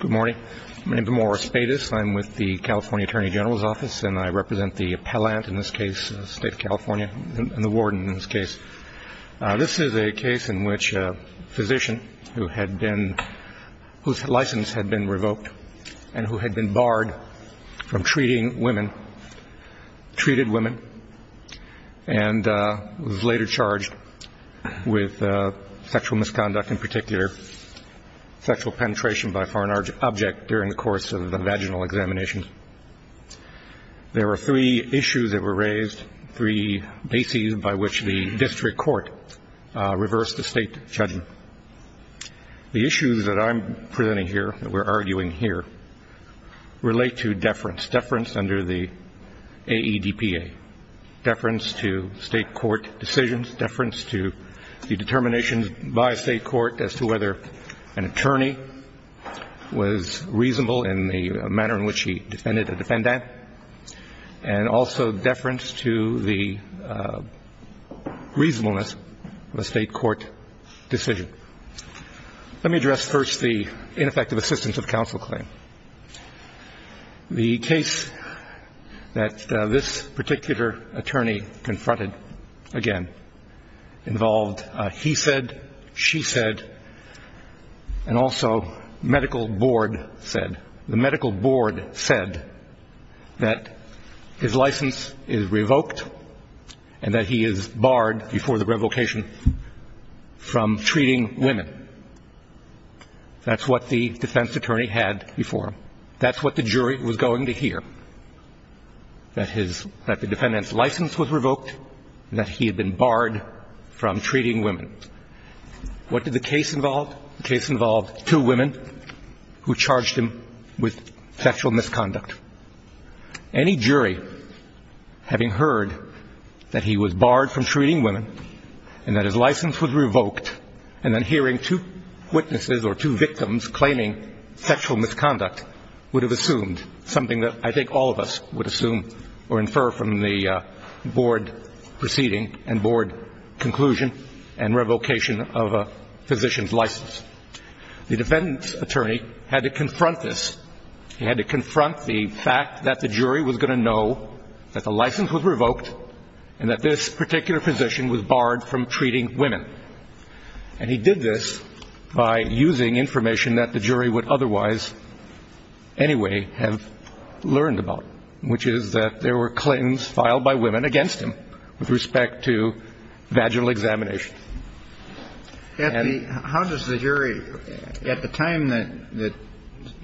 Good morning. My name is Amora Spadus. I'm with the California Attorney General's Office, and I represent the appellant in this case, the State of California, and the warden in this case. This is a case in which a physician whose license had been revoked and who had been barred from treating women, and was later charged with sexual misconduct in particular, sexual penetration by a foreign object during the course of the vaginal examination. There were three issues that were raised, three bases by which the district court reversed the state judgment. The issues that I'm presenting here, that we're arguing here, relate to deference, deference under the AEDPA, deference to state court decisions, deference to the determinations by a state court as to whether an attorney was reasonable in the manner in which he defended a defendant, and also deference to the reasonableness of a state court decision. Let me address first the ineffective assistance of counsel claim. The case that this particular attorney confronted, again, involved a he said, she said, and also medical board said. The medical board said that his license is revoked and that he is barred before the revocation from treating women. That's what the defense attorney had before him. That's what the jury was going to hear, that the defendant's license was revoked and that he had been barred from treating women. What did the case involve? The case involved two women who charged him with sexual misconduct. Any jury having heard that he was barred from treating women and that his license was revoked and then hearing two witnesses or two victims claiming sexual misconduct would have assumed something that I think all of us would assume or infer from the board proceeding and board conclusion and revocation of a physician's license. The defendant's attorney had to confront this. He had to confront the fact that the jury was going to know that the license was revoked and that this particular physician was barred from treating women. And he did this by using information that the jury would otherwise anyway have learned about, which is that there were claims filed by women against him with respect to vaginal examination. And how does the jury at the time that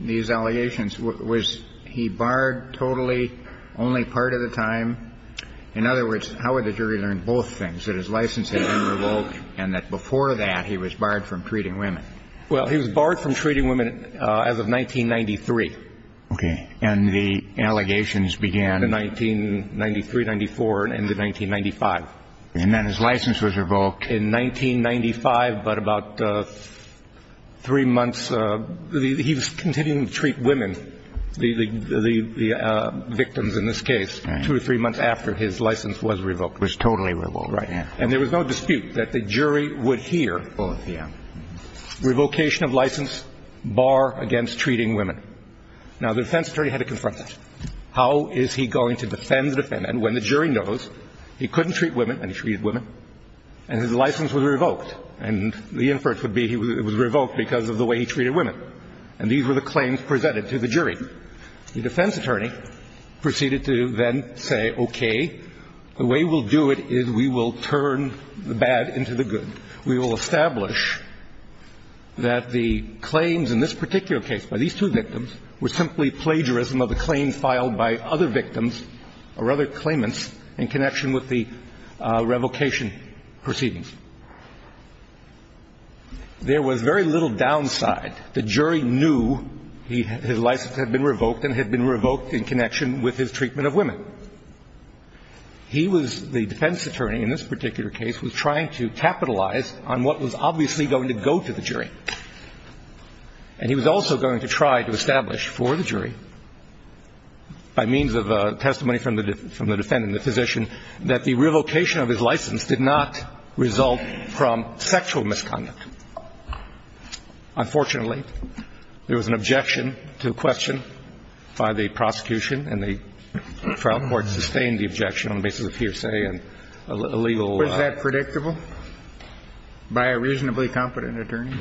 these allegations was he barred totally only part of the time. In other words, how would the jury learn both things, that his license had been revoked and that before that he was barred from treating women? Well, he was barred from treating women as of 1993. Okay. And the allegations began in 1993, 94 and ended 1995. And then his license was revoked. In 1995, but about three months, he was continuing to treat women, the victims in this case, two or three months after his license was revoked. Was totally revoked. Right. And there was no dispute that the jury would hear revocation of license bar against treating women. Now, the defense attorney had to confront that. How is he going to defend the defendant when the jury knows he couldn't treat women and he treated women and his license was revoked? And the inference would be it was revoked because of the way he treated women. And these were the claims presented to the jury. The defense attorney proceeded to then say, okay, the way we'll do it is we will turn the bad into the good. We will establish that the claims in this particular case by these two victims were simply plagiarism of a claim filed by other victims or other claimants in connection with the revocation proceedings. There was very little downside. The jury knew his license had been revoked and had been revoked in connection with his treatment of women. He was, the defense attorney in this particular case, was trying to capitalize on what was obviously going to go to the jury. And he was also going to try to establish for the jury by means of testimony from the defendant, the physician, that the revocation of his license did not result from sexual misconduct. Unfortunately, there was an objection to a question by the prosecution, and the trial court sustained the objection on the basis of hearsay and a legal law. Was that predictable by a reasonably competent attorney?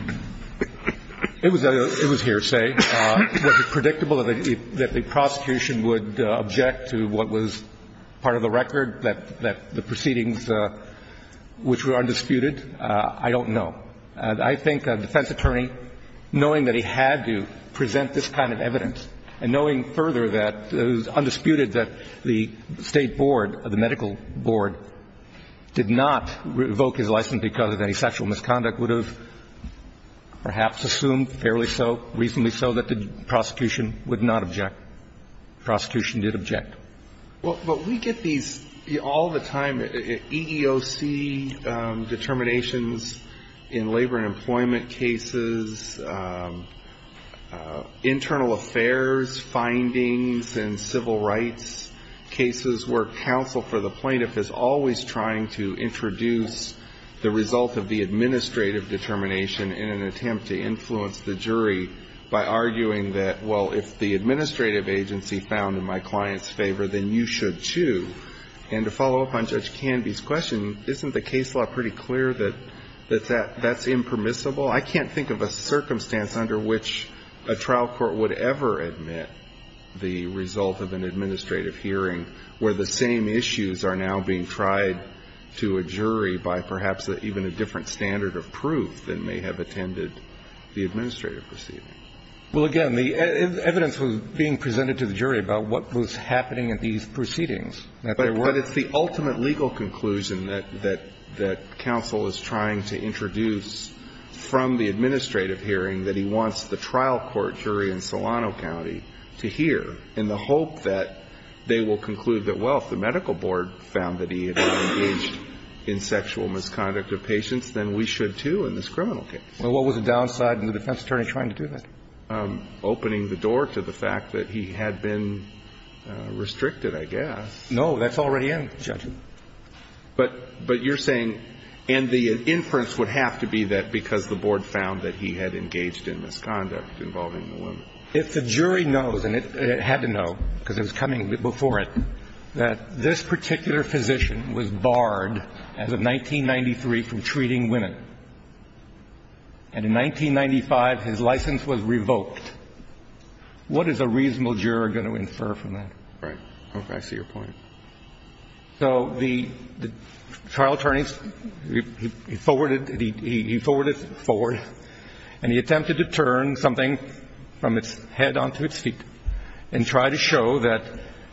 It was hearsay. Was it predictable that the prosecution would object to what was part of the record, that the proceedings which were undisputed? I don't know. I think a defense attorney, knowing that he had to present this kind of evidence and knowing further that it was undisputed that the State Board, the medical board, did not revoke his license because of any sexual misconduct, would have perhaps assumed fairly so, reasonably so, that the prosecution would not object. The prosecution did object. Well, we get these all the time, EEOC determinations in labor and employment cases, internal affairs findings in civil rights cases where counsel for the plaintiff is always trying to introduce the result of the administrative determination in an attempt to influence the jury by arguing that, well, if the administrative agency found in my client's favor, then you should, too. And to follow up on Judge Canby's question, isn't the case law pretty clear that that's impermissible? I can't think of a circumstance under which a trial court would ever admit the result of an administrative hearing where the same issues are now being tried to a jury by perhaps even a different standard of proof than may have attended the administrative proceeding. Well, again, the evidence was being presented to the jury about what was happening at these proceedings. But it's the ultimate legal conclusion that counsel is trying to introduce from the administrative hearing that he wants the trial court jury in Solano County to hear in the hope that they will conclude that, well, if the medical board found that he had been engaged in sexual misconduct of patients, then we should, too, in this criminal case. Well, what was the downside in the defense attorney trying to do that? Opening the door to the fact that he had been restricted, I guess. No, that's already in, Judge. But you're saying, and the inference would have to be that because the board found that he had engaged in misconduct involving the women. If the jury knows, and it had to know because it was coming before it, that this particular physician was barred as of 1993 from treating women, and in 1995 his license was revoked, what is a reasonable juror going to infer from that? Right. Okay. I see your point. So the trial attorneys, he forwarded, he forwarded, forward, and he attempted to turn something from its head onto its feet and try to show that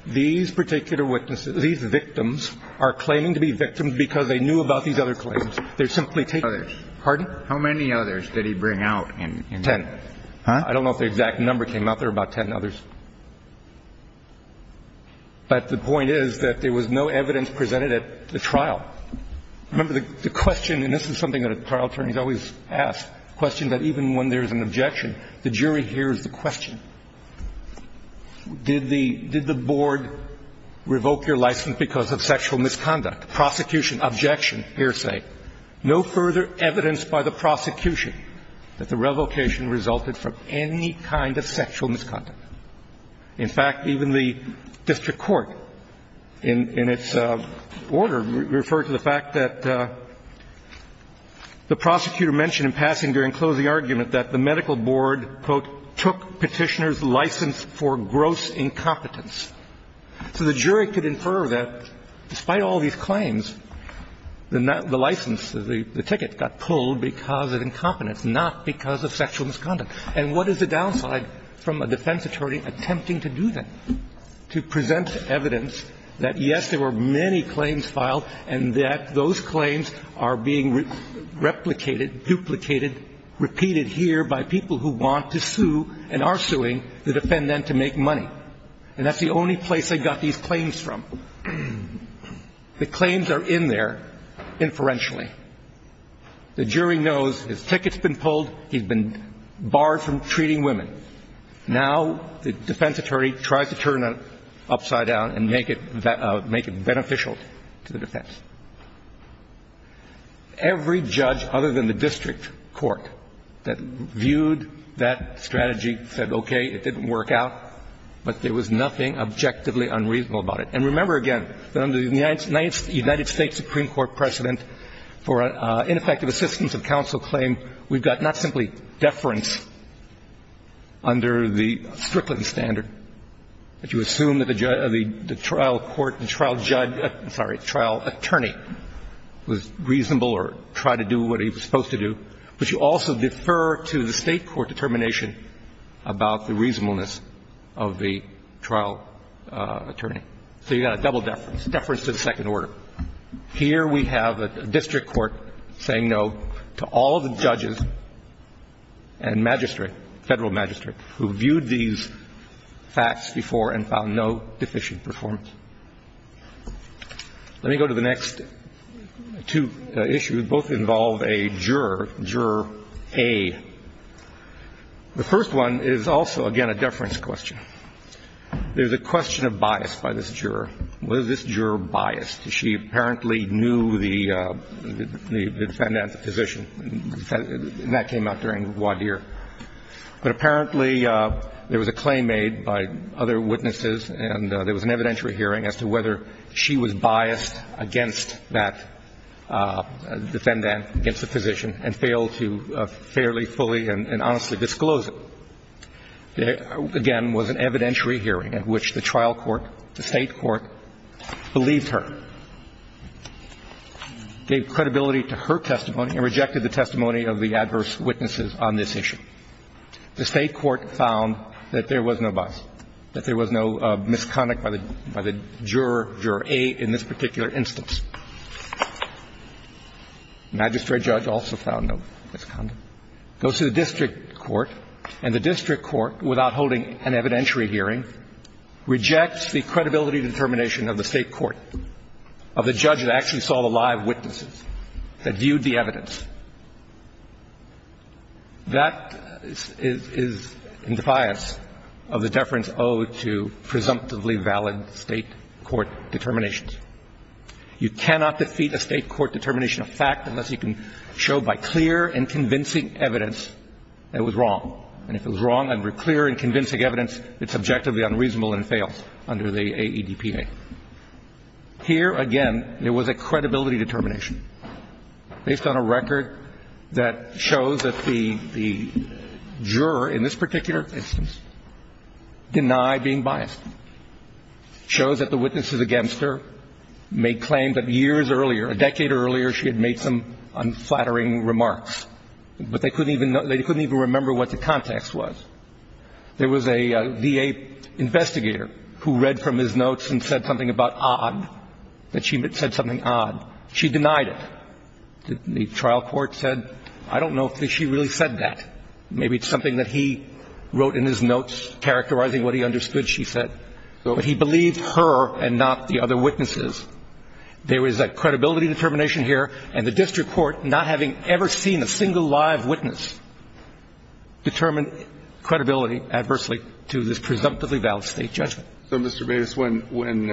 these particular witnesses, these victims, are claiming to be victims because they knew about these other claims. They're simply taking others. Pardon? How many others did he bring out? Ten. I don't know if the exact number came out. There were about ten others. But the point is that there was no evidence presented at the trial. Remember, the question, and this is something that a trial attorney is always asked, a question that even when there is an objection, the jury hears the question. Did the Board revoke your license because of sexual misconduct, prosecution, objection, hearsay? No further evidence by the prosecution that the revocation resulted from any kind of sexual misconduct. In fact, even the district court in its order referred to the fact that the prosecutor mentioned in passing during closing argument that the medical board, quote, took Petitioner's license for gross incompetence. So the jury could infer that despite all these claims, the license, the ticket got pulled because of incompetence, not because of sexual misconduct. And what is the downside from a defense attorney attempting to do that, to present evidence that, yes, there were many claims filed and that those claims are being replicated, duplicated, repeated here by people who want to sue and are suing the defendant to make money? And that's the only place they got these claims from. The claims are in there inferentially. The jury knows his ticket's been pulled. He's been barred from treating women. Now the defense attorney tries to turn it upside down and make it beneficial to the defense. Every judge other than the district court that viewed that strategy said, okay, it didn't work out, but there was nothing objectively unreasonable about it. And remember again that under the United States Supreme Court precedent for ineffective assistance of counsel claim, we've got not simply deference under the Strickland standard that you assume that the trial court, the trial judge, sorry, trial attorney was reasonable or tried to do what he was supposed to do, but you also defer to the state court determination about the reasonableness of the trial attorney. So you've got a double deference, deference to the second order. Here we have a district court saying no to all of the judges and magistrate, federal magistrate, who viewed these facts before and found no deficient performance. Let me go to the next two issues. Both involve a juror, Juror A. The first one is also, again, a deference question. There's a question of bias by this juror. Was this juror biased? She apparently knew the defendant as a physician. And that came out during Wadir. But apparently there was a claim made by other witnesses and there was an evidentiary hearing as to whether she was biased against that defendant, against the physician, and failed to fairly fully and honestly disclose it. Again, was an evidentiary hearing at which the trial court, the state court, believed her, gave credibility to her testimony and rejected the testimony of the adverse witnesses on this issue. The state court found that there was no bias, that there was no misconduct by the juror, Juror A, in this particular instance. Magistrate judge also found no misconduct. Goes to the district court, and the district court, without holding an evidentiary hearing, rejects the credibility determination of the state court, of the judge that actually saw the live witnesses, that viewed the evidence. That is in defiance of the deference owed to presumptively valid state court determinations. You cannot defeat a state court determination of fact unless you can show by clear and convincing evidence that it was wrong. And if it was wrong under clear and convincing evidence, it's objectively unreasonable and fails under the AEDPA. Here, again, there was a credibility determination based on a record that shows that the juror in this particular instance denied being biased. Shows that the witnesses against her made claims that years earlier, a decade earlier, she had made some unflattering remarks. But they couldn't even remember what the context was. There was a VA investigator who read from his notes and said something about odd, that she said something odd. She denied it. The trial court said, I don't know if she really said that. Maybe it's something that he wrote in his notes characterizing what he understood she said. But he believed her and not the other witnesses. There is a credibility determination here, and the district court, not having ever seen a single live witness, determined credibility adversely to this presumptively valid State judgment. So, Mr. Bates, when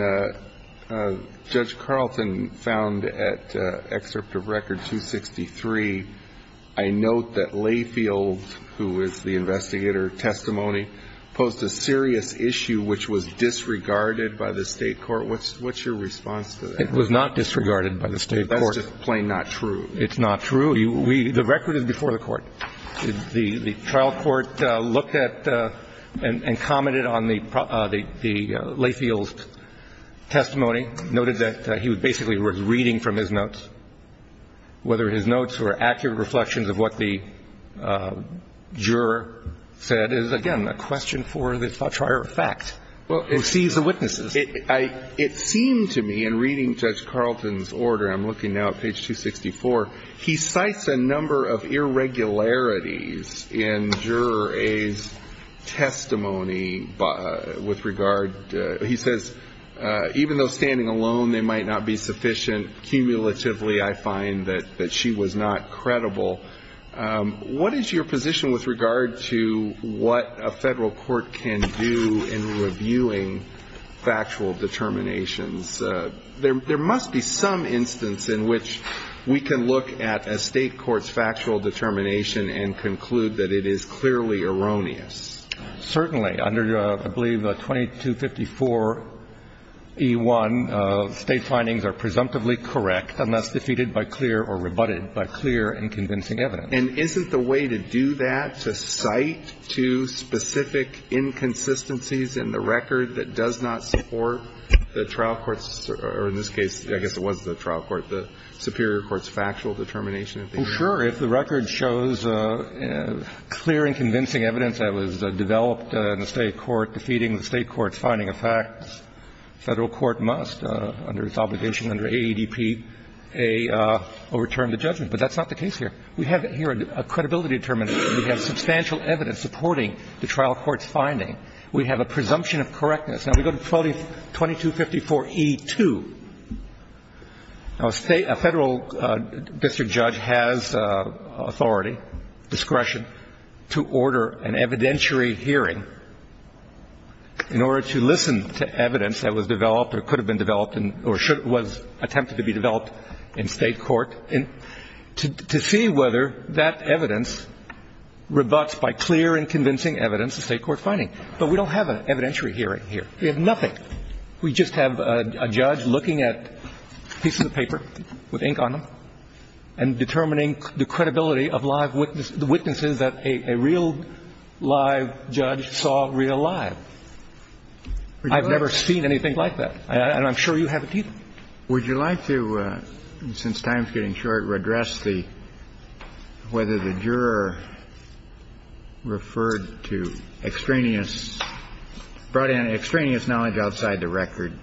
Judge Carlton found at excerpt of Record 263, I note that Layfield, who is the investigator testimony, posed a serious issue which was disregarded by the State court. What's your response to that? It was not disregarded by the State court. That's just plain not true. It's not true. The record is before the court. The trial court looked at and commented on the Layfield's testimony, noted that he basically was reading from his notes. Whether his notes were accurate reflections of what the juror said is, again, a question for the triar of fact, who sees the witnesses. It seemed to me in reading Judge Carlton's order, I'm looking now at page 264, he cites a number of irregularities in Juror A's testimony with regard, he says, even though standing alone they might not be sufficient, cumulatively I find that she was not credible. What is your position with regard to what a Federal court can do in reviewing factual determinations? There must be some instance in which we can look at a State court's factual determination and conclude that it is clearly erroneous. Certainly. Under, I believe, 2254e1, State findings are presumptively correct unless defeated by clear or rebutted by clear and convincing evidence. And isn't the way to do that to cite to specific inconsistencies in the record that does not support the trial court's, or in this case, I guess it was the trial court, the superior court's factual determination? Well, sure. If the record shows clear and convincing evidence that was developed in the State court defeating the State court's finding of facts, the Federal court must, under its obligation under AEDP, overturn the judgment. But that's not the case here. We have here a credibility determinant. We have substantial evidence supporting the trial court's finding. We have a presumption of correctness. Now, we go to 2254e2. Now, a State, a Federal district judge has authority, discretion, to order an evidentiary hearing in order to listen to evidence that was developed or could have been developed or was attempted to be developed in State court, to see whether that evidence rebuts by clear and convincing evidence the State court finding. But we don't have an evidentiary hearing here. We have nothing. We just have a judge looking at a piece of paper with ink on them and determining the credibility of live witnesses that a real live judge saw real live. I've never seen anything like that. And I'm sure you haven't either. Kennedy, would you like to, since time is getting short, address the, whether the juror referred to extraneous, brought in extraneous knowledge outside the record,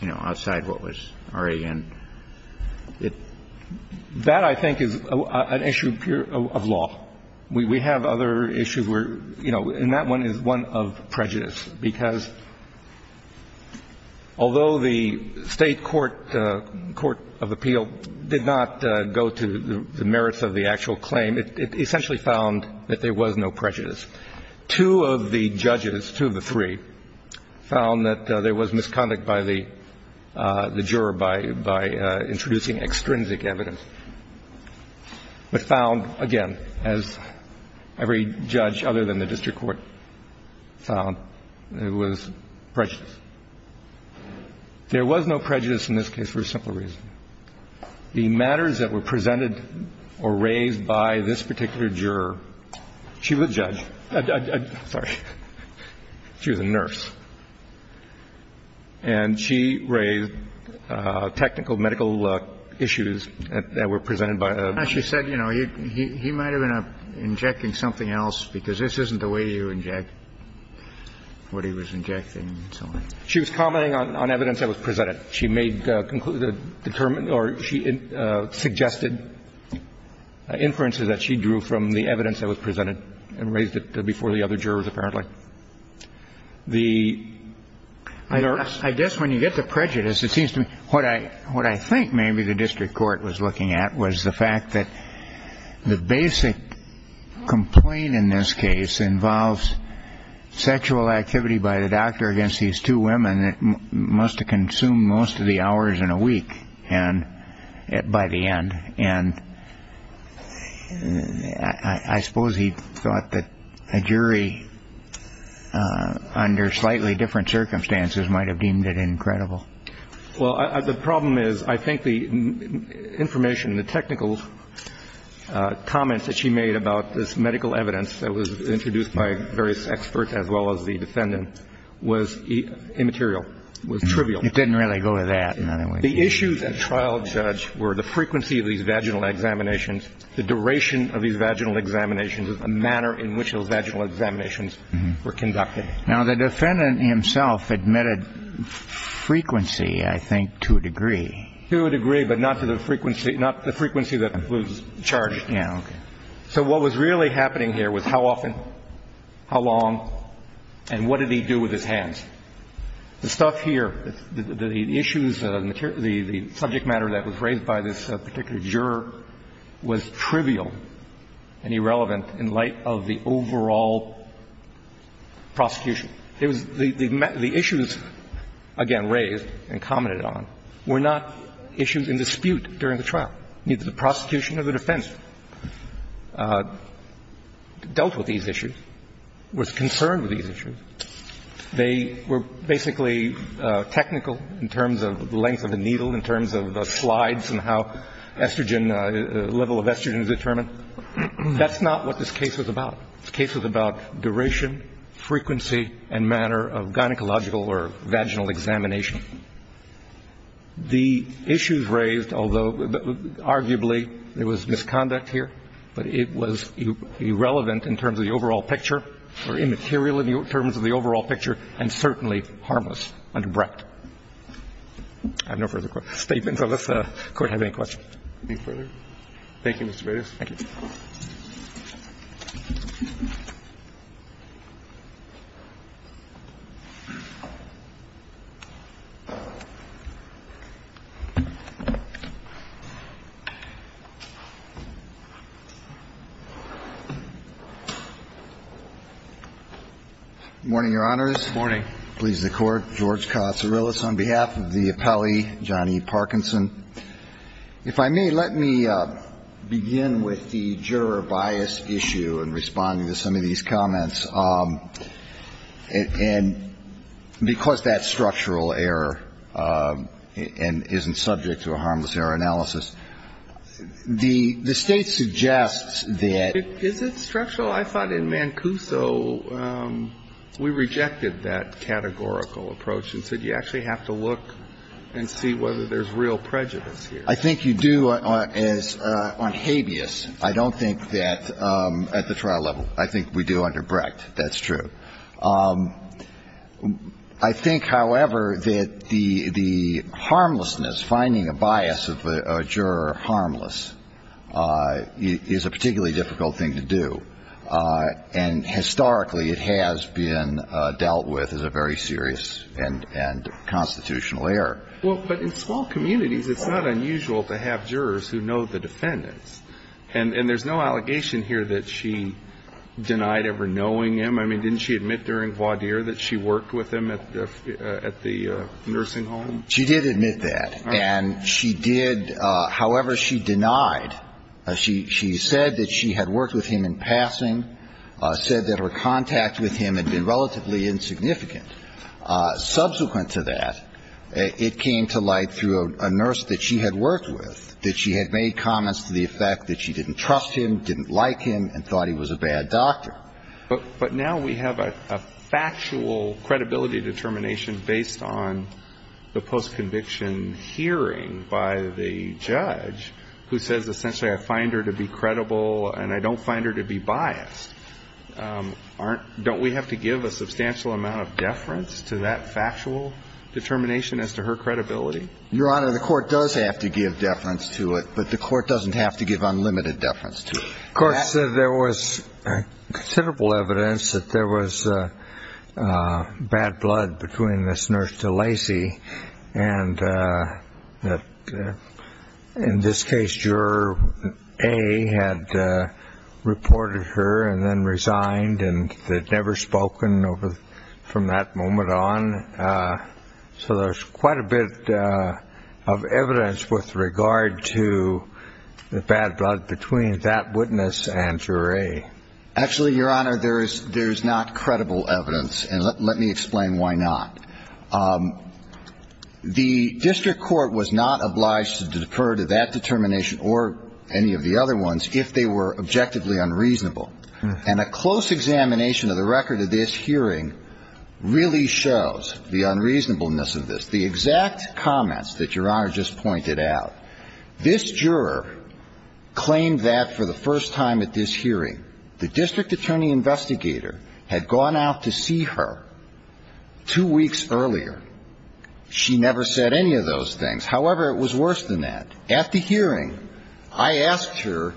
you know, outside what was RAN? That, I think, is an issue of law. We have other issues where, you know, and that one is one of prejudice, because although the State court, court of appeal, did not go to the merits of the actual claim, it essentially found that there was no prejudice. Two of the judges, two of the three, found that there was misconduct by the juror by introducing extrinsic evidence, but found, again, as every judge other than the There was no prejudice in this case for a simple reason. The matters that were presented or raised by this particular juror, she was a judge. Sorry. She was a nurse. And she raised technical medical issues that were presented by a. She said, you know, he might have been injecting something else because this isn't the way you inject what he was injecting. She was commenting on evidence that was presented. She made conclusive, determined, or she suggested inferences that she drew from the evidence that was presented and raised it before the other jurors, apparently. The nurse. I guess when you get to prejudice, it seems to me what I think maybe the district court was looking at was the fact that the basic complaint in this case involves sexual activity by the doctor against these two women. It must have consumed most of the hours in a week. And by the end. And I suppose he thought that a jury under slightly different circumstances might have deemed it incredible. Well, the problem is, I think the information, the technical comments that she made about this medical evidence that was introduced by various experts as well as the defendant was immaterial, was trivial. It didn't really go to that. The issues at trial judge were the frequency of these vaginal examinations, the duration of these vaginal examinations, the manner in which those vaginal examinations were conducted. Now, the defendant himself admitted frequency, I think, to a degree. To a degree, but not to the frequency, not the frequency that was charged. Yeah. Okay. So what was really happening here was how often, how long, and what did he do with his hands. The stuff here, the issues, the subject matter that was raised by this particular juror was trivial and irrelevant in light of the overall prosecution. It was the issues, again, raised and commented on were not issues in dispute during the trial. Neither the prosecution nor the defense dealt with these issues, was concerned with these issues. They were basically technical in terms of the length of the needle, in terms of the slides and how estrogen, the level of estrogen is determined. That's not what this case was about. This case was about duration, frequency, and manner of gynecological or vaginal examination. The issues raised, although arguably there was misconduct here, but it was irrelevant in terms of the overall picture, or immaterial in terms of the overall picture, and certainly harmless under Brecht. I have no further statements. Unless the Court has any questions. Thank you, Mr. Bates. Thank you. Good morning, Your Honors. Good morning. Please, the Court. George Katsourilis on behalf of the appellee, John E. Parkinson. If I may, let me begin with the juror bias issue in responding to some of these comments. And because that's structural error and isn't subject to a harmless error analysis, the State suggests that. Is it structural? I thought in Mancuso we rejected that categorical approach and said you actually have to look and see whether there's real prejudice here. I think you do on habeas. I don't think that at the trial level. I think we do under Brecht. That's true. I think, however, that the harmlessness, finding a bias of a juror harmless, is a particularly difficult thing to do. And historically, it has been dealt with as a very serious and constitutional error. Well, but in small communities, it's not unusual to have jurors who know the defendants. And there's no allegation here that she denied ever knowing him. I mean, didn't she admit during voir dire that she worked with him at the nursing home? She did admit that. And she did. However, she denied. She said that she had worked with him in passing, said that her contact with him had been relatively insignificant. Subsequent to that, it came to light through a nurse that she had worked with that she had made comments to the effect that she didn't trust him, didn't like him, and thought he was a bad doctor. But now we have a factual credibility determination based on the post-conviction hearing by the judge who says, essentially, I find her to be credible and I don't find her to be biased. Don't we have to give a substantial amount of deference to that factual determination as to her credibility? Your Honor, the Court does have to give deference to it. But the Court doesn't have to give unlimited deference to it. Of course, there was considerable evidence that there was bad blood between this nurse to Lacy and that in this case, juror A had reported her and then resigned, and they'd never spoken from that moment on. So there's quite a bit of evidence with regard to the bad blood between that witness and juror A. Actually, Your Honor, there is not credible evidence, and let me explain why not. The district court was not obliged to defer to that determination or any of the other ones if they were objectively unreasonable. And a close examination of the record of this hearing really shows the unreasonableness of this. The exact comments that Your Honor just pointed out, this juror claimed that for the first time at this hearing, the district attorney investigator had gone out to see her two weeks earlier. She never said any of those things. However, it was worse than that. At the hearing, I asked her,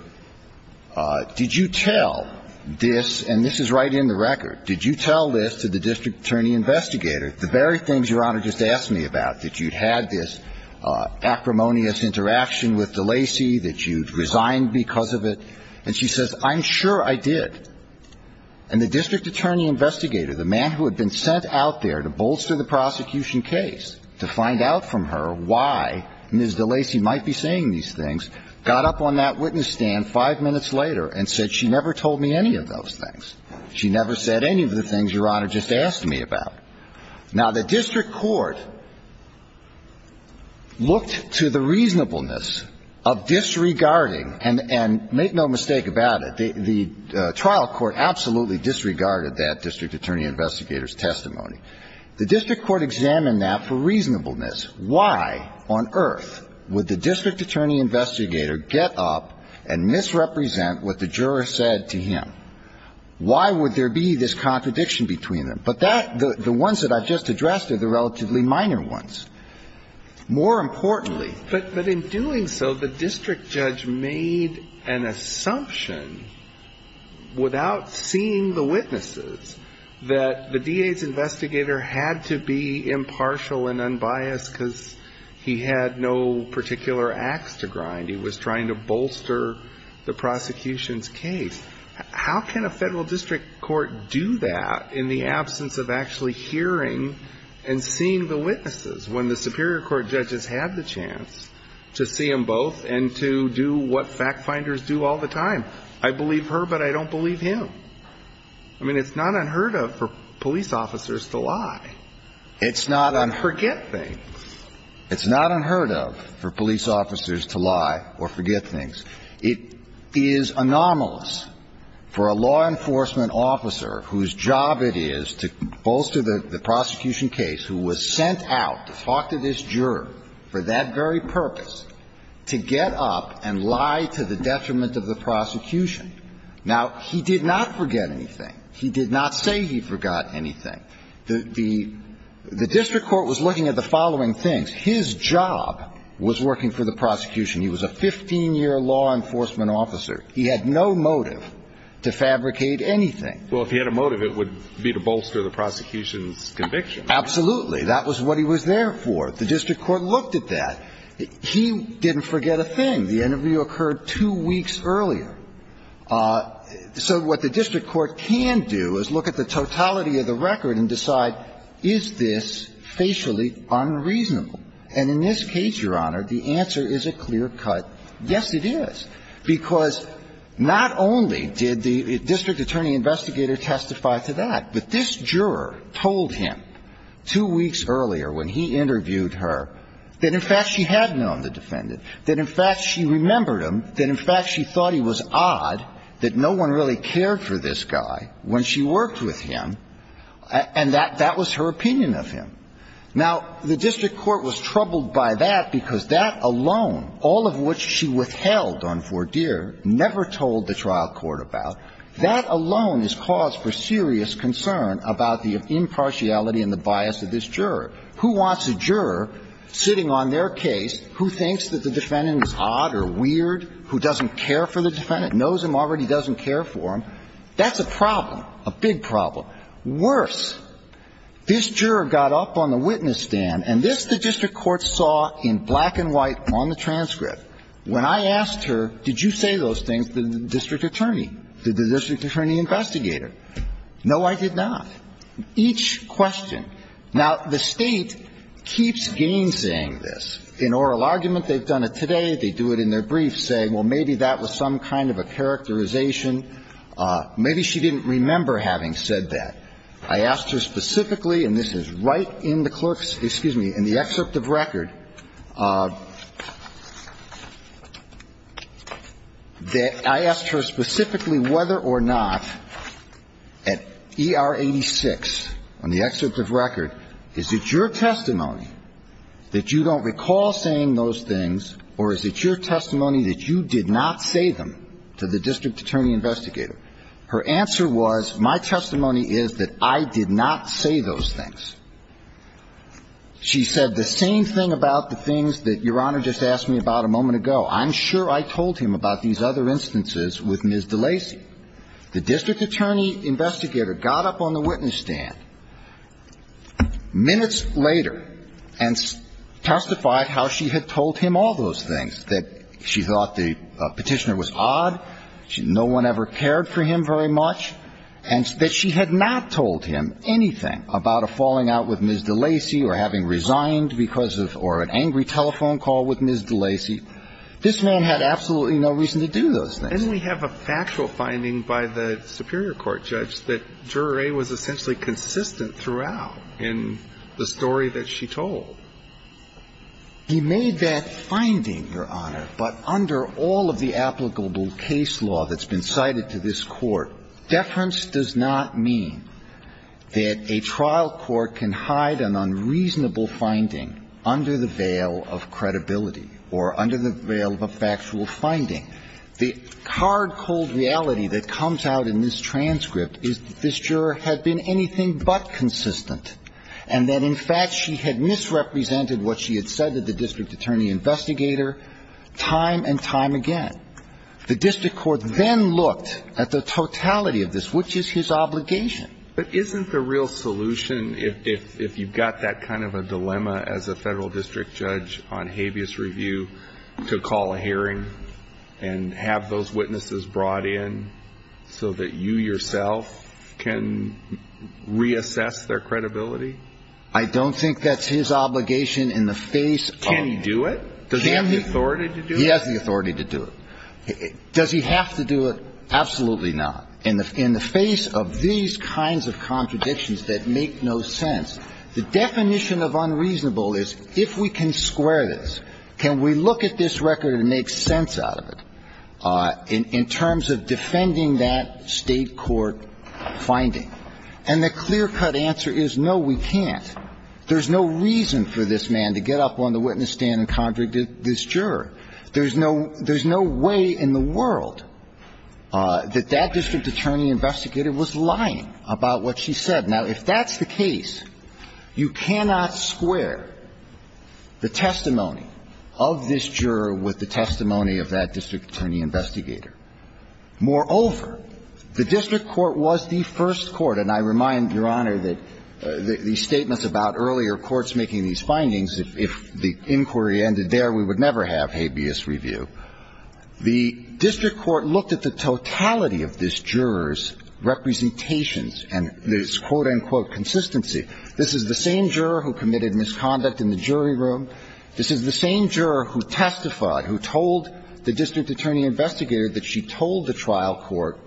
did you tell this? And this is right in the record. Did you tell this to the district attorney investigator, the very things Your Honor just asked me about, that you'd had this acrimonious interaction with the Lacy, that you'd resigned because of it? And she says, I'm sure I did. And the district attorney investigator, the man who had been sent out there to bolster the prosecution case, to find out from her why Ms. de Lacy might be saying these things, got up on that witness stand five minutes later and said she never told me any of those things. She never said any of the things Your Honor just asked me about. Now, the district court looked to the reasonableness of disregarding, and make no mistake about it, the trial court absolutely disregarded that district attorney investigator's testimony. The district court examined that for reasonableness. Why on earth would the district attorney investigator get up and misrepresent what the juror said to him? Why would there be this contradiction between them? But that the ones that I've just addressed are the relatively minor ones. More importantly. But in doing so, the district judge made an assumption, without seeing the witnesses, that the DA's investigator had to be impartial and unbiased because he had no particular ax to grind. He was trying to bolster the prosecution's case. How can a federal district court do that in the absence of actually hearing and seeing the witnesses? When the superior court judges have the chance to see them both and to do what fact finders do all the time. I believe her, but I don't believe him. I mean, it's not unheard of for police officers to lie. It's not unheard of. Or forget things. It's not unheard of for police officers to lie or forget things. It is anomalous for a law enforcement officer whose job it is to bolster the prosecution case who was sent out to talk to this juror for that very purpose to get up and lie to the detriment of the prosecution. Now, he did not forget anything. He did not say he forgot anything. The district court was looking at the following things. His job was working for the prosecution. He was a 15-year law enforcement officer. He had no motive to fabricate anything. Well, if he had a motive, it would be to bolster the prosecution's conviction. Absolutely. That was what he was there for. The district court looked at that. He didn't forget a thing. The interview occurred two weeks earlier. So what the district court can do is look at the totality of the record and decide, is this facially unreasonable? And in this case, Your Honor, the answer is a clear cut, yes, it is, because not only did the district attorney investigator testify to that, but this juror told him two weeks earlier when he interviewed her that, in fact, she had known the defendant, that, in fact, she remembered him, that, in fact, she thought he was odd, that no one really cared for this guy when she worked with him, and that was her opinion of him. Now, the district court was troubled by that because that alone, all of which she withheld on four-deer, never told the trial court about, that alone is cause for serious concern about the impartiality and the bias of this juror. Who wants a juror sitting on their case who thinks that the defendant is odd or weird, who doesn't care for the defendant, knows him already, doesn't care for him? That's a problem, a big problem. Worse, this juror got up on the witness stand, and this the district court saw in black and white on the transcript. When I asked her, did you say those things to the district attorney, to the district attorney investigator? No, I did not. Each question. Now, the State keeps gainsaying this. In oral argument, they've done it today. They do it in their brief, saying, well, maybe that was some kind of a characterization. Maybe she didn't remember having said that. I asked her specifically, and this is right in the clerk's, excuse me, in the excerpt of record, that I asked her specifically whether or not at ER 86, on the excerpt of record, is it your testimony that you don't recall saying those things, or is it your testimony that you did not say them to the district attorney investigator? Her answer was, my testimony is that I did not say those things. She said the same thing about the things that Your Honor just asked me about a moment ago. I'm sure I told him about these other instances with Ms. DeLacy. The district attorney investigator got up on the witness stand minutes later and testified about how she had told him all those things, that she thought the petitioner was odd, no one ever cared for him very much, and that she had not told him anything about a falling out with Ms. DeLacy or having resigned because of or an angry telephone call with Ms. DeLacy. This man had absolutely no reason to do those things. And we have a factual finding by the superior court judge that Juror A was essentially consistent throughout in the story that she told. He made that finding, Your Honor, but under all of the applicable case law that's been cited to this Court, deference does not mean that a trial court can hide an unreasonable finding under the veil of credibility or under the veil of a factual finding. The hard, cold reality that comes out in this transcript is that this juror had been anything but consistent and that, in fact, she had misrepresented what she had said to the district attorney investigator time and time again. The district court then looked at the totality of this, which is his obligation. But isn't the real solution, if you've got that kind of a dilemma as a Federal District Judge on habeas review, to call a hearing and have those witnesses brought in so that you yourself can reassess their credibility? I don't think that's his obligation in the face of... Can he do it? Does he have the authority to do it? He has the authority to do it. Does he have to do it? Absolutely not. In the face of these kinds of contradictions that make no sense, the definition of if we can square this, can we look at this record and make sense out of it in terms of defending that State court finding? And the clear-cut answer is no, we can't. There's no reason for this man to get up on the witness stand and convict this juror. There's no way in the world that that district attorney investigator was lying about what she said. Now, if that's the case, you cannot square the testimony of this juror with the testimony of that district attorney investigator. Moreover, the district court was the first court, and I remind Your Honor that the statements about earlier courts making these findings, if the inquiry ended there, we would never have habeas review. The district court looked at the totality of this juror's representations and this quote-unquote consistency. This is the same juror who committed misconduct in the jury room. This is the same juror who testified, who told the district attorney investigator that she told the trial court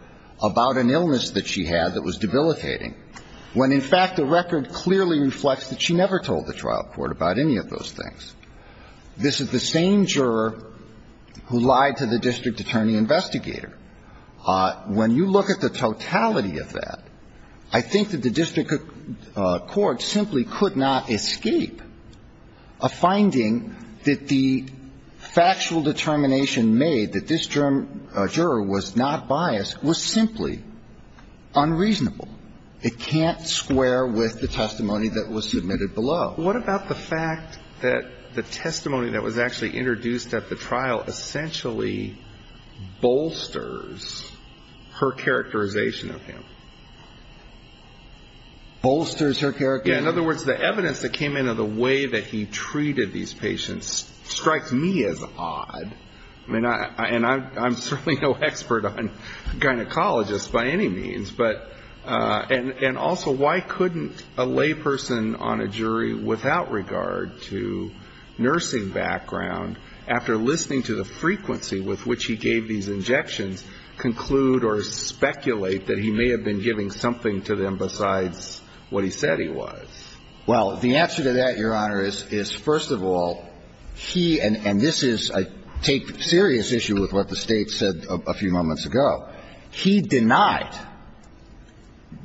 about an illness that she had that was debilitating, when in fact the record clearly reflects that she never told the trial court about any of those things. This is the same juror who lied to the district attorney investigator. When you look at the totality of that, I think that the district court simply could not escape a finding that the factual determination made that this juror was not biased was simply unreasonable. It can't square with the testimony that was submitted below. What about the fact that the testimony that was actually introduced at the trial essentially bolsters her characterization of him? Bolsters her characterization? In other words, the evidence that came in of the way that he treated these patients strikes me as odd. And I'm certainly no expert on gynecologists by any means. And also, why couldn't a layperson on a jury without regard to nursing background, after listening to the frequency with which he gave these injections, conclude or speculate that he may have been giving something to them besides what he said he was? Well, the answer to that, Your Honor, is, first of all, he, and this is, I take serious issue with what the State said a few moments ago. He denied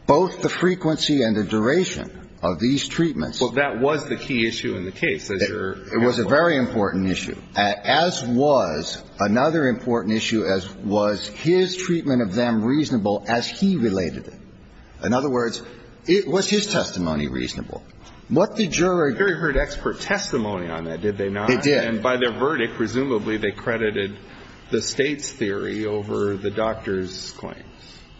both the frequency and the duration of these treatments. Well, that was the key issue in the case, as you're saying. It was a very important issue, as was another important issue, as was his treatment of them reasonable as he related it. In other words, it was his testimony reasonable. What the jury did not. The jury heard expert testimony on that, did they not? It did. And by their verdict, presumably, they credited the State's theory over the doctor's claim.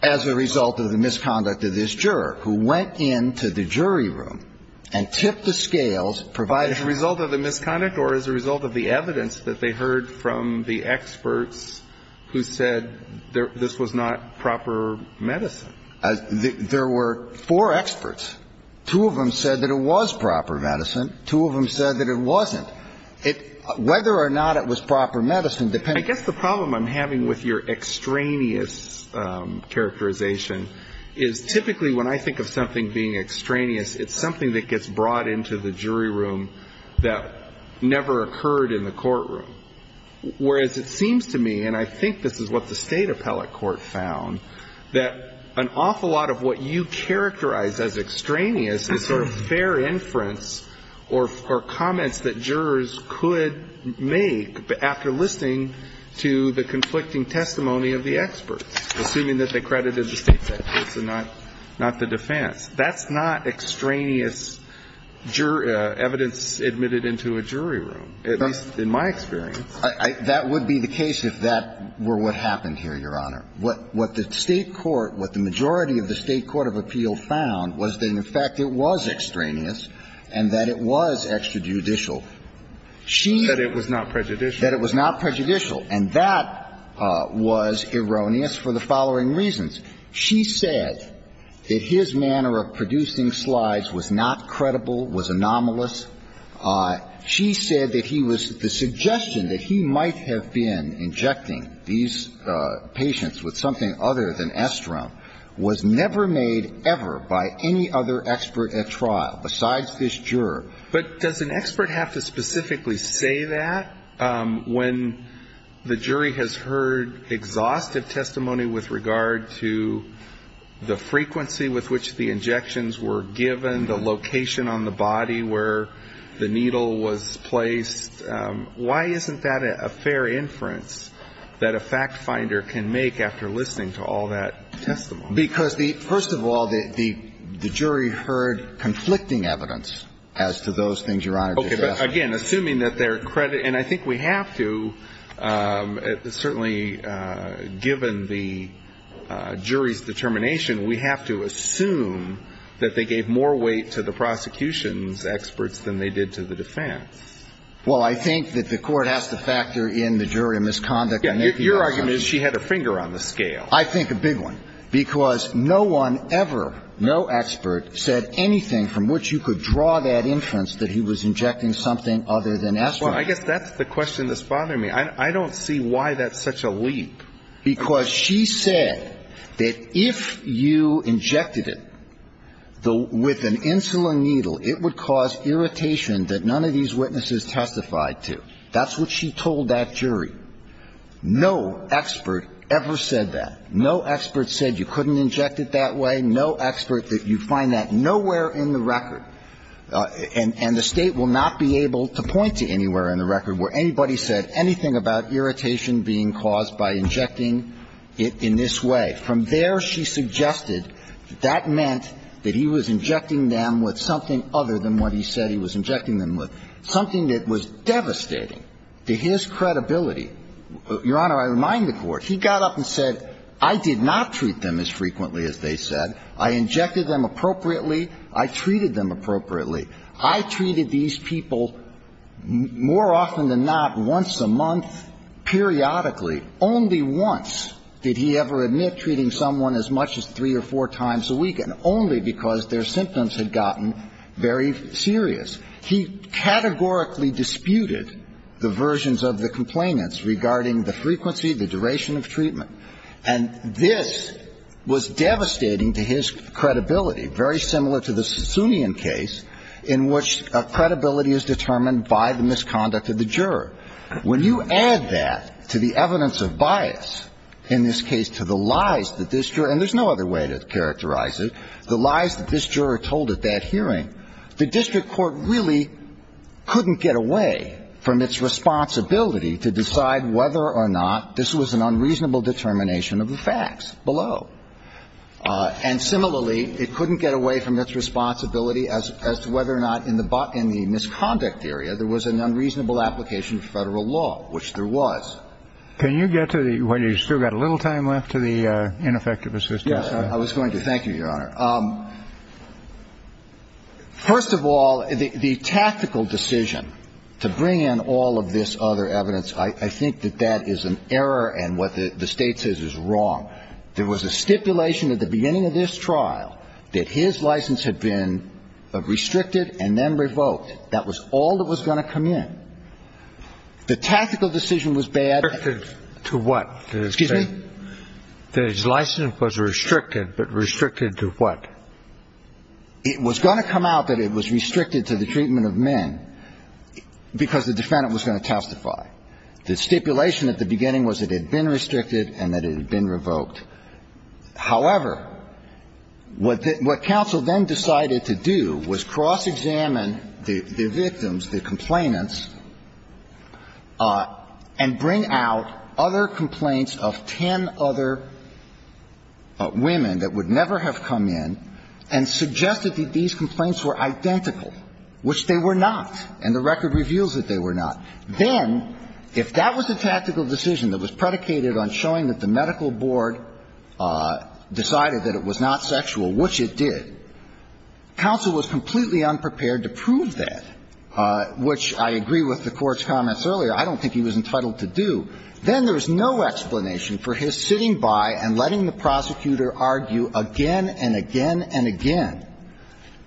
As a result of the misconduct of this juror, who went into the jury room and tipped the scales provided. As a result of the misconduct or as a result of the evidence that they heard from the experts who said this was not proper medicine? There were four experts. Two of them said that it was proper medicine. Two of them said that it wasn't. Whether or not it was proper medicine, depending. I guess the problem I'm having with your extraneous characterization is typically when I think of something being extraneous, it's something that gets brought into the jury room that never occurred in the courtroom. Whereas it seems to me, and I think this is what the State appellate court found, that an awful lot of what you characterize as extraneous is sort of fair inference or comments that jurors could make after listening to the conflicting testimony of the experts. Assuming that they credited the State's experts and not the defense. That's not extraneous evidence admitted into a jury room, at least in my experience. That would be the case if that were what happened here, Your Honor. What the State court, what the majority of the State court of appeal found was that, in fact, it was extraneous and that it was extrajudicial. That it was not prejudicial. That it was not prejudicial. And that was erroneous for the following reasons. She said that his manner of producing slides was not credible, was anomalous. She said that he was the suggestion that he might have been injecting these patients with something other than Estrone was never made ever by any other expert at trial besides this juror. But does an expert have to specifically say that when the jury has heard exhaustive testimony with regard to the frequency with which the injections were given, the location on the body where the needle was placed? Why isn't that a fair inference that a fact finder can make after listening to all that testimony? Because, first of all, the jury heard conflicting evidence as to those things, Your Honor. Okay. But, again, assuming that their credit, and I think we have to, certainly, given the jury's determination, we have to assume that they gave more weight to the prosecution's experts than they did to the defense. Well, I think that the court has to factor in the jury misconduct. Your argument is she had a finger on the scale. I think a big one, because no one ever, no expert said anything from which you could draw that inference that he was injecting something other than Estrone. Well, I guess that's the question that's bothering me. I don't see why that's such a leap. Because she said that if you injected it with an insulin needle, it would cause irritation that none of these witnesses testified to. That's what she told that jury. No expert ever said that. No expert said you couldn't inject it that way. No expert that you find that nowhere in the record. And the State will not be able to point to anywhere in the record where anybody said anything about irritation being caused by injecting it in this way. From there, she suggested that that meant that he was injecting them with something other than what he said he was injecting them with, something that was devastating to his credibility. Your Honor, I remind the Court. He got up and said, I did not treat them as frequently as they said. I injected them appropriately. I treated them appropriately. I treated these people more often than not once a month, periodically. Only once did he ever admit treating someone as much as three or four times a week, and only because their symptoms had gotten very serious. He categorically disputed the versions of the complainants regarding the frequency, the duration of treatment. And this was devastating to his credibility, very similar to the Sassoonian case, in which credibility is determined by the misconduct of the juror. When you add that to the evidence of bias, in this case to the lies that this juror – and there's no other way to characterize it – the lies that this juror told at that hearing, the district court really couldn't get away from its responsibility to decide whether or not this was an unreasonable determination of the facts below. And similarly, it couldn't get away from its responsibility as to whether or not in the misconduct area there was an unreasonable application of Federal law, which there was. Can you get to the – well, you've still got a little time left to the ineffective assistance. Yes, I was going to. Thank you, Your Honor. First of all, the tactical decision to bring in all of this other evidence, I think that that is an error and what the State says is wrong. There was a stipulation at the beginning of this trial that his license had been restricted and then revoked. That was all that was going to come in. The tactical decision was bad. Restricted to what? Excuse me? That his license was restricted, but restricted to what? It was going to come out that it was restricted to the treatment of men because the defendant was going to testify. The stipulation at the beginning was that it had been restricted and that it had been revoked. However, what the – what counsel then decided to do was cross-examine the victims, the complainants, and bring out other complaints of ten other women that would never have come in and suggest that these complaints were identical, which they were not, and the record reveals that they were not. Then, if that was the tactical decision that was predicated on showing that the medical board decided that it was not sexual, which it did, counsel was completely unprepared to prove that, which I agree with the Court's comments earlier. I don't think he was entitled to do. Then there was no explanation for his sitting by and letting the prosecutor argue again and again and again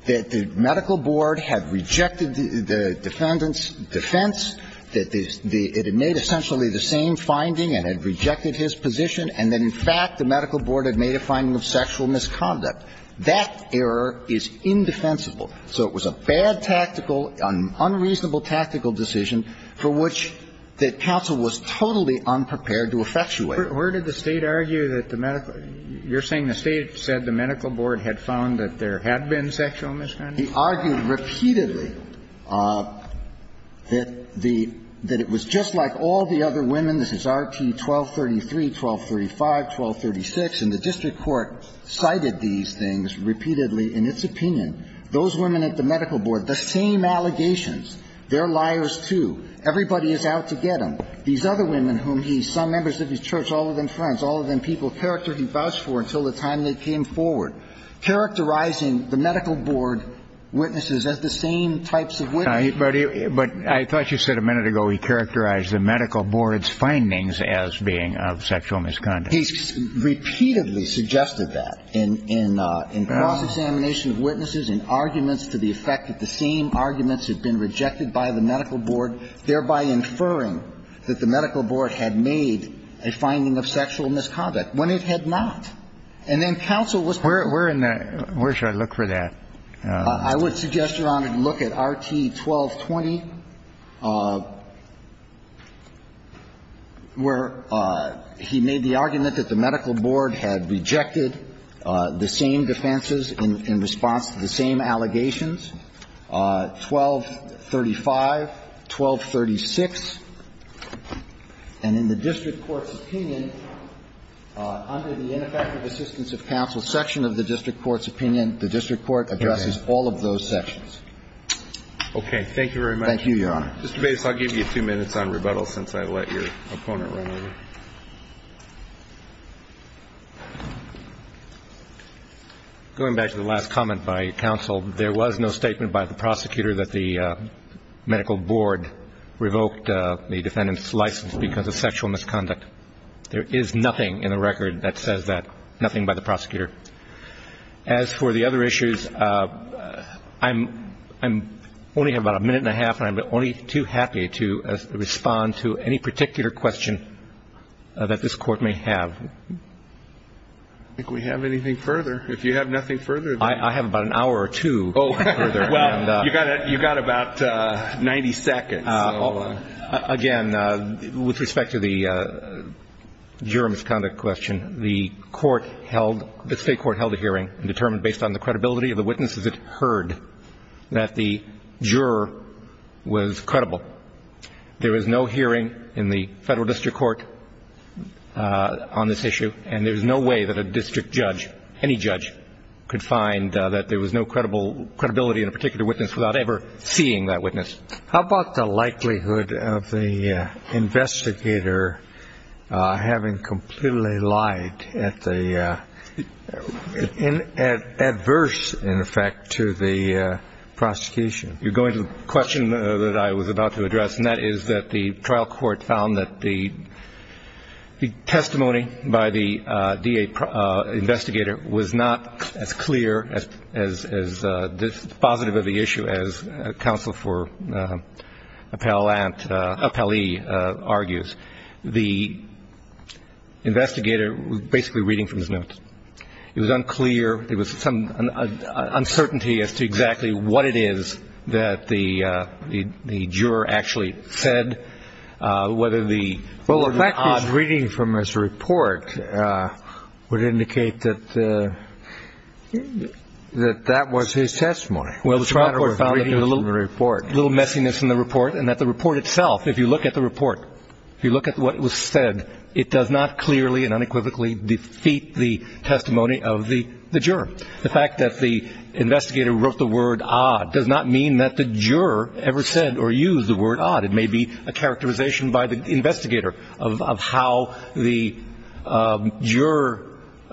that the medical board had rejected the defendant's defense, that it had made essentially the same finding and had rejected his position, and that in fact the medical board had made a finding of sexual misconduct. That error is indefensible. So it was a bad tactical, unreasonable tactical decision for which the counsel was totally unprepared to effectuate. Kennedy. But where did the State argue that the medical – you're saying the State said the medical board had found that there had been sexual misconduct? He argued repeatedly that the – that it was just like all the other women. This is Rt. 1233, 1235, 1236, and the district court cited these things repeatedly in its opinion. Those women at the medical board, the same allegations. They're liars, too. Everybody is out to get them. These other women whom he – some members of his church, all of them friends, all of them people character he vouched for until the time they came forward, characterizing the medical board witnesses as the same types of witnesses. But I thought you said a minute ago he characterized the medical board's findings as being of sexual misconduct. He repeatedly suggested that in cross-examination of witnesses, in arguments to the effect that the same arguments had been rejected by the medical board, thereby inferring that the medical board had made a finding of sexual misconduct when it had not. And then counsel was – Where in the – where should I look for that? I would suggest, Your Honor, to look at Rt. 1220, where he made the argument that the medical board had rejected the same defenses in response to the same allegations, 1235, 1236. And in the district court's opinion, under the ineffective assistance of counsel and the medical board, the medical board had not made a finding of sexual misconduct. the medical board had not made a finding of sexual misconduct. And in the medical section of the district court's opinion, the district court addresses all of those sections. Okay. Thank you very much. Thank you, Your Honor. Mr. Bates, I'll give you two minutes on rebuttal since I let your opponent run over. Going back to the last comment by counsel, there was no statement by the prosecutor that the medical board revoked the defendant's license because of sexual misconduct. There is nothing in the record that says that, nothing by the prosecutor. As for the other issues, I only have about a minute and a half, and I'm only too happy to respond to any particular question that this Court may have. If we have anything further. If you have nothing further. I have about an hour or two further. Well, you've got about 90 seconds. Again, with respect to the juror misconduct question, the court held, the state court held a hearing and determined based on the credibility of the witnesses it heard that the juror was credible. There was no hearing in the federal district court on this issue, and there's no way that a district judge, any judge, could find that there was no credibility in a particular witness without ever seeing that witness. How about the likelihood of the investigator having completely lied, adverse, in effect, to the prosecution? You're going to the question that I was about to address, and that is that the trial court found that the testimony by the DA investigator was not as clear, as positive of the issue as counsel for appellee argues. The investigator was basically reading from his notes. It was unclear. There was some uncertainty as to exactly what it is that the juror actually said. Well, the fact that he's reading from his report would indicate that that was his testimony. Well, the trial court found that there was a little messiness in the report and that the report itself, if you look at the report, if you look at what was said, it does not clearly and unequivocally defeat the testimony of the juror. The fact that the investigator wrote the word odd does not mean that the juror ever said or used the word odd. It may be a characterization by the investigator of how the juror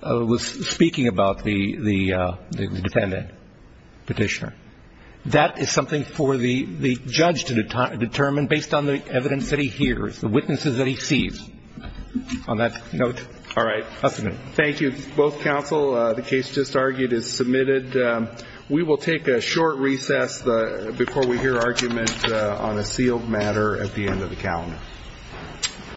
was speaking about the defendant, petitioner. That is something for the judge to determine based on the evidence that he hears, the witnesses that he sees. On that note, all right. Thank you, both counsel. The case just argued is submitted. We will take a short recess before we hear argument on a sealed matter at the end of the calendar.